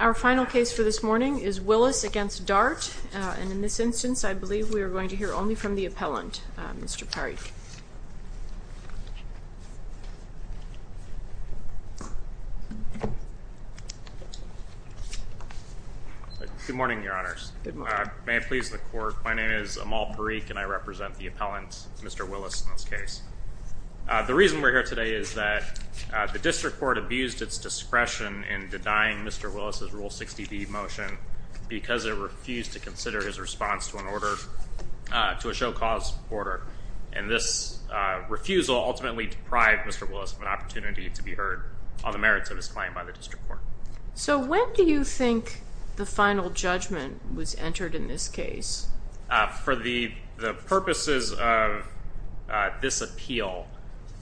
Our final case for this morning is Willis v. Dart, and in this instance I believe we are going to hear only from the appellant, Mr. Parikh. Mr. Willis v. Dart Good morning, Your Honors. May it please the Court, my name is Amal Parikh, and I represent the appellant, Mr. Willis, in this case. The reason we're here today is that the District Court abused its discretion in denying Mr. Willis' Rule 60b motion because it refused to consider his response to a show-cause order, and this refusal ultimately deprived Mr. Willis of an opportunity to be heard on the merits of his claim by the District Court. So when do you think the final judgment was entered in this case? For the purposes of this appeal,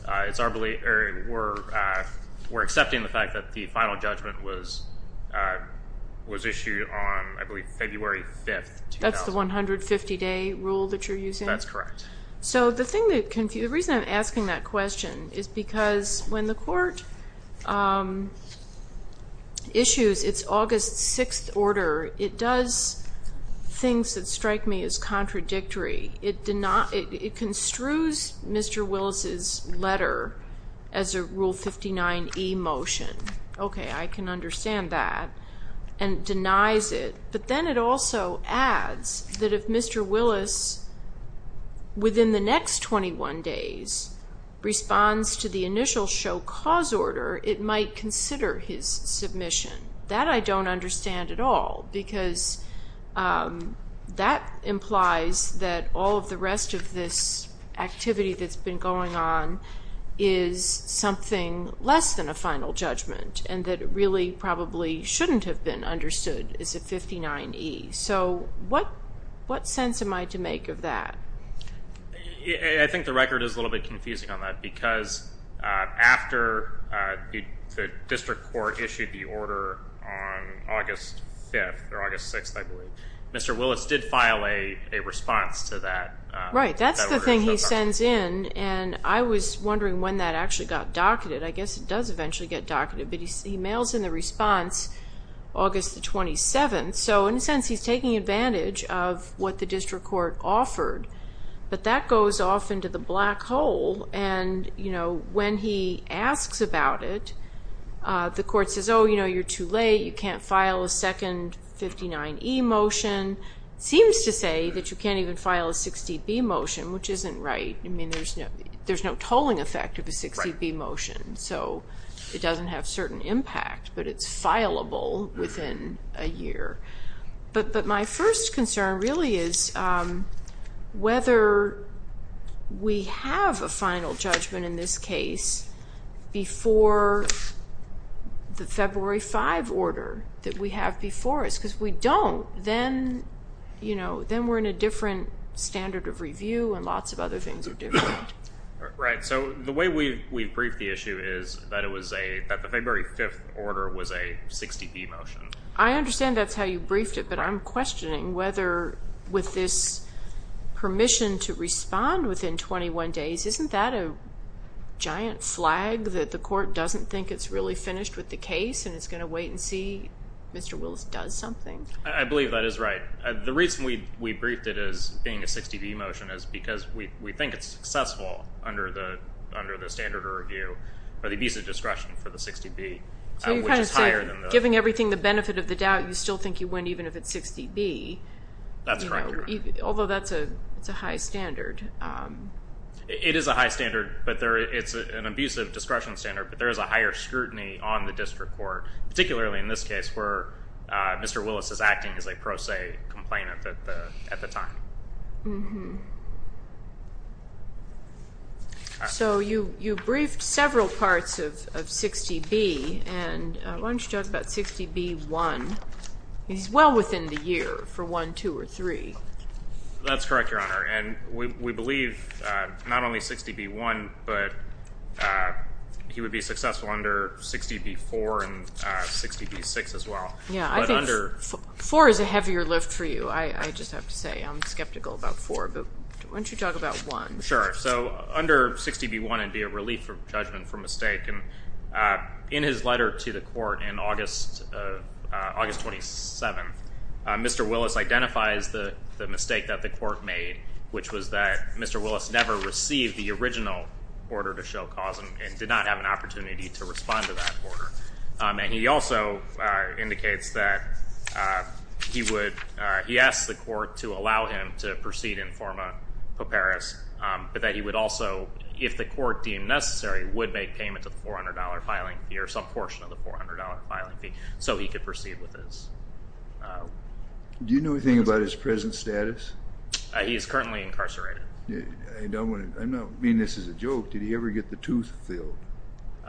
we're accepting the fact that the final judgment was issued on, I believe, February 5th, 2000. That's the 150-day rule that you're using? That's correct. So the reason I'm asking that question is because when the Court issues its August 6th order, it does things that strike me as contradictory. It construes Mr. Willis' letter as a Rule 59e motion. Okay, I can understand that, and denies it. But then it also adds that if Mr. Willis, within the next 21 days, responds to the initial show-cause order, it might consider his submission. That I don't understand at all because that implies that all of the rest of this activity that's been going on is something less than a final judgment and that it really probably shouldn't have been understood as a 59e. So what sense am I to make of that? I think the record is a little bit confusing on that because after the District Court issued the order on August 5th or August 6th, I believe, Mr. Willis did file a response to that. Right, that's the thing he sends in, and I was wondering when that actually got docketed. I guess it does eventually get docketed, but he mails in the response August 27th, so in a sense he's taking advantage of what the District Court offered. But that goes off into the black hole, and when he asks about it, the Court says, oh, you're too late, you can't file a second 59e motion. Seems to say that you can't even file a 60b motion, which isn't right. There's no tolling effect of a 60b motion, so it doesn't have certain impact, but it's fileable within a year. But my first concern really is whether we have a final judgment in this case before the February 5 order that we have before us, because if we don't, then we're in a different standard of review and lots of other things are different. Right, so the way we've briefed the issue is that the February 5 order was a 60b motion. I understand that's how you briefed it, but I'm questioning whether, with this permission to respond within 21 days, isn't that a giant flag that the Court doesn't think it's really finished with the case and it's going to wait and see Mr. Willis does something? I believe that is right. The reason we briefed it as being a 60b motion is because we think it's successful under the standard of review for the abusive discretion for the 60b, which is higher than that. So you're kind of saying, giving everything the benefit of the doubt, you still think you win even if it's 60b. That's correct, Your Honor. Although that's a high standard. It is a high standard, but it's an abusive discretion standard, but there is a higher scrutiny on the district court, particularly in this case where Mr. Willis is acting as a pro se complainant at the time. So you briefed several parts of 60b, and why don't you talk about 60b-1. He's well within the year for 1, 2, or 3. That's correct, Your Honor, and we believe not only 60b-1, but he would be successful under 60b-4 and 60b-6 as well. Yeah, I think 4 is a heavier lift for you, I just have to say. I'm skeptical about 4, but why don't you talk about 1? Sure. So under 60b-1, it would be a relief of judgment for mistake, and in his letter to the court in August 27th, Mr. Willis identifies the mistake that the court made, which was that Mr. Willis never received the original order to show cause and did not have an opportunity to respond to that order. And he also indicates that he asked the court to allow him to proceed in forma paperis, but that he would also, if the court deemed necessary, would make payment to the $400 filing fee or some portion of the $400 filing fee so he could proceed with this. Do you know anything about his present status? He is currently incarcerated. I'm not meaning this as a joke. Did he ever get the tooth filled?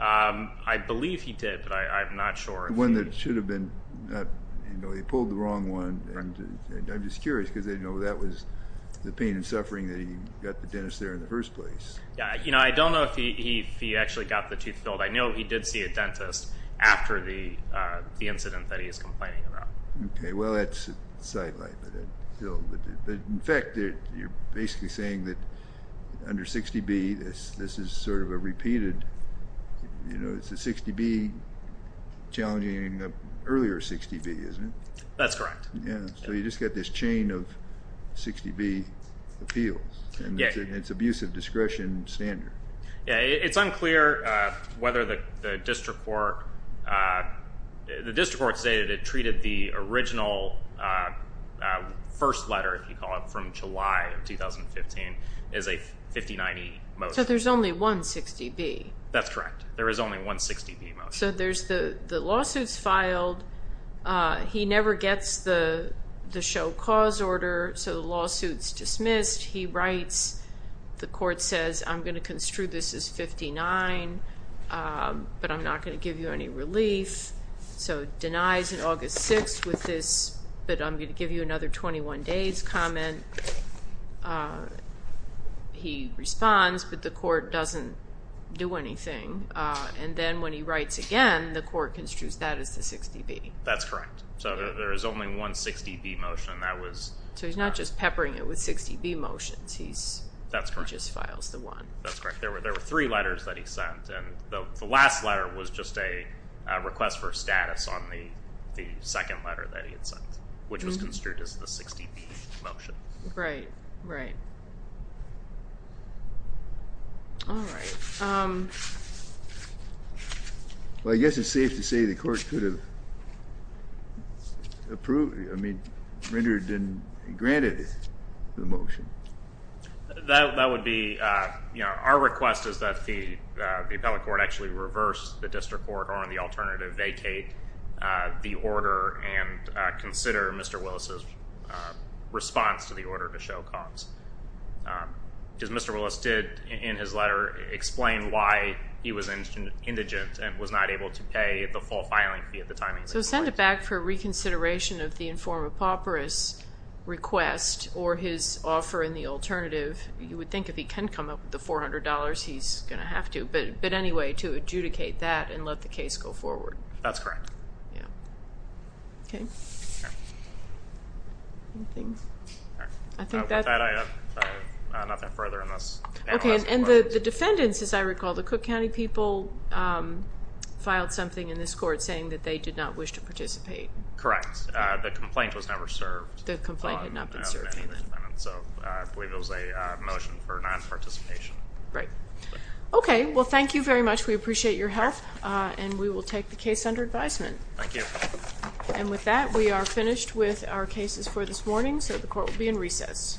I believe he did, but I'm not sure. The one that should have been. He pulled the wrong one, and I'm just curious because that was the pain and suffering that he got the dentist there in the first place. I don't know if he actually got the tooth filled. I know he did see a dentist after the incident that he is complaining about. Okay. Well, that's a sidelight. But, in fact, you're basically saying that under 60B, this is sort of a repeated, you know, it's a 60B challenging an earlier 60B, isn't it? That's correct. Yeah. So you just got this chain of 60B appeals, and it's abusive discretion standard. Yeah. It's unclear whether the district court stated it treated the original first letter, if you call it, from July of 2015 as a 50-90 motion. So there's only one 60B. That's correct. There is only one 60B motion. So the lawsuit's filed. The court says, I'm going to construe this as 59, but I'm not going to give you any relief. So it denies in August 6 with this, but I'm going to give you another 21 days comment. He responds, but the court doesn't do anything. And then when he writes again, the court construes that as the 60B. That's correct. So there is only one 60B motion. So he's not just peppering it with 60B motions. He just files the one. That's correct. There were three letters that he sent, and the last letter was just a request for status on the second letter that he had sent, which was construed as the 60B motion. Right, right. All right. Well, I guess it's safe to say the court could have approved, I mean, rendered and granted the motion. That would be, you know, our request is that the appellate court actually reverse the district court or, on the alternative, vacate the order and consider Mr. Willis' response to the order to show cause. Because Mr. Willis did, in his letter, explain why he was indigent and was not able to pay the full filing fee at the time. So send it back for reconsideration of the informed pauperous request or his offer in the alternative. You would think if he can come up with the $400, he's going to have to. But anyway, to adjudicate that and let the case go forward. That's correct. Yeah. Okay. Anything? All right. With that, I have nothing further on this panel. Okay. And the defendants, as I recall, the Cook County people filed something in this court saying that they did not wish to participate. Correct. The complaint was never served. The complaint had not been served. So I believe it was a motion for non-participation. Right. Okay. Well, thank you very much. We appreciate your help. And we will take the case under advisement. Thank you. And with that, we are finished with our cases for this morning. So the court will be in recess. Thank you.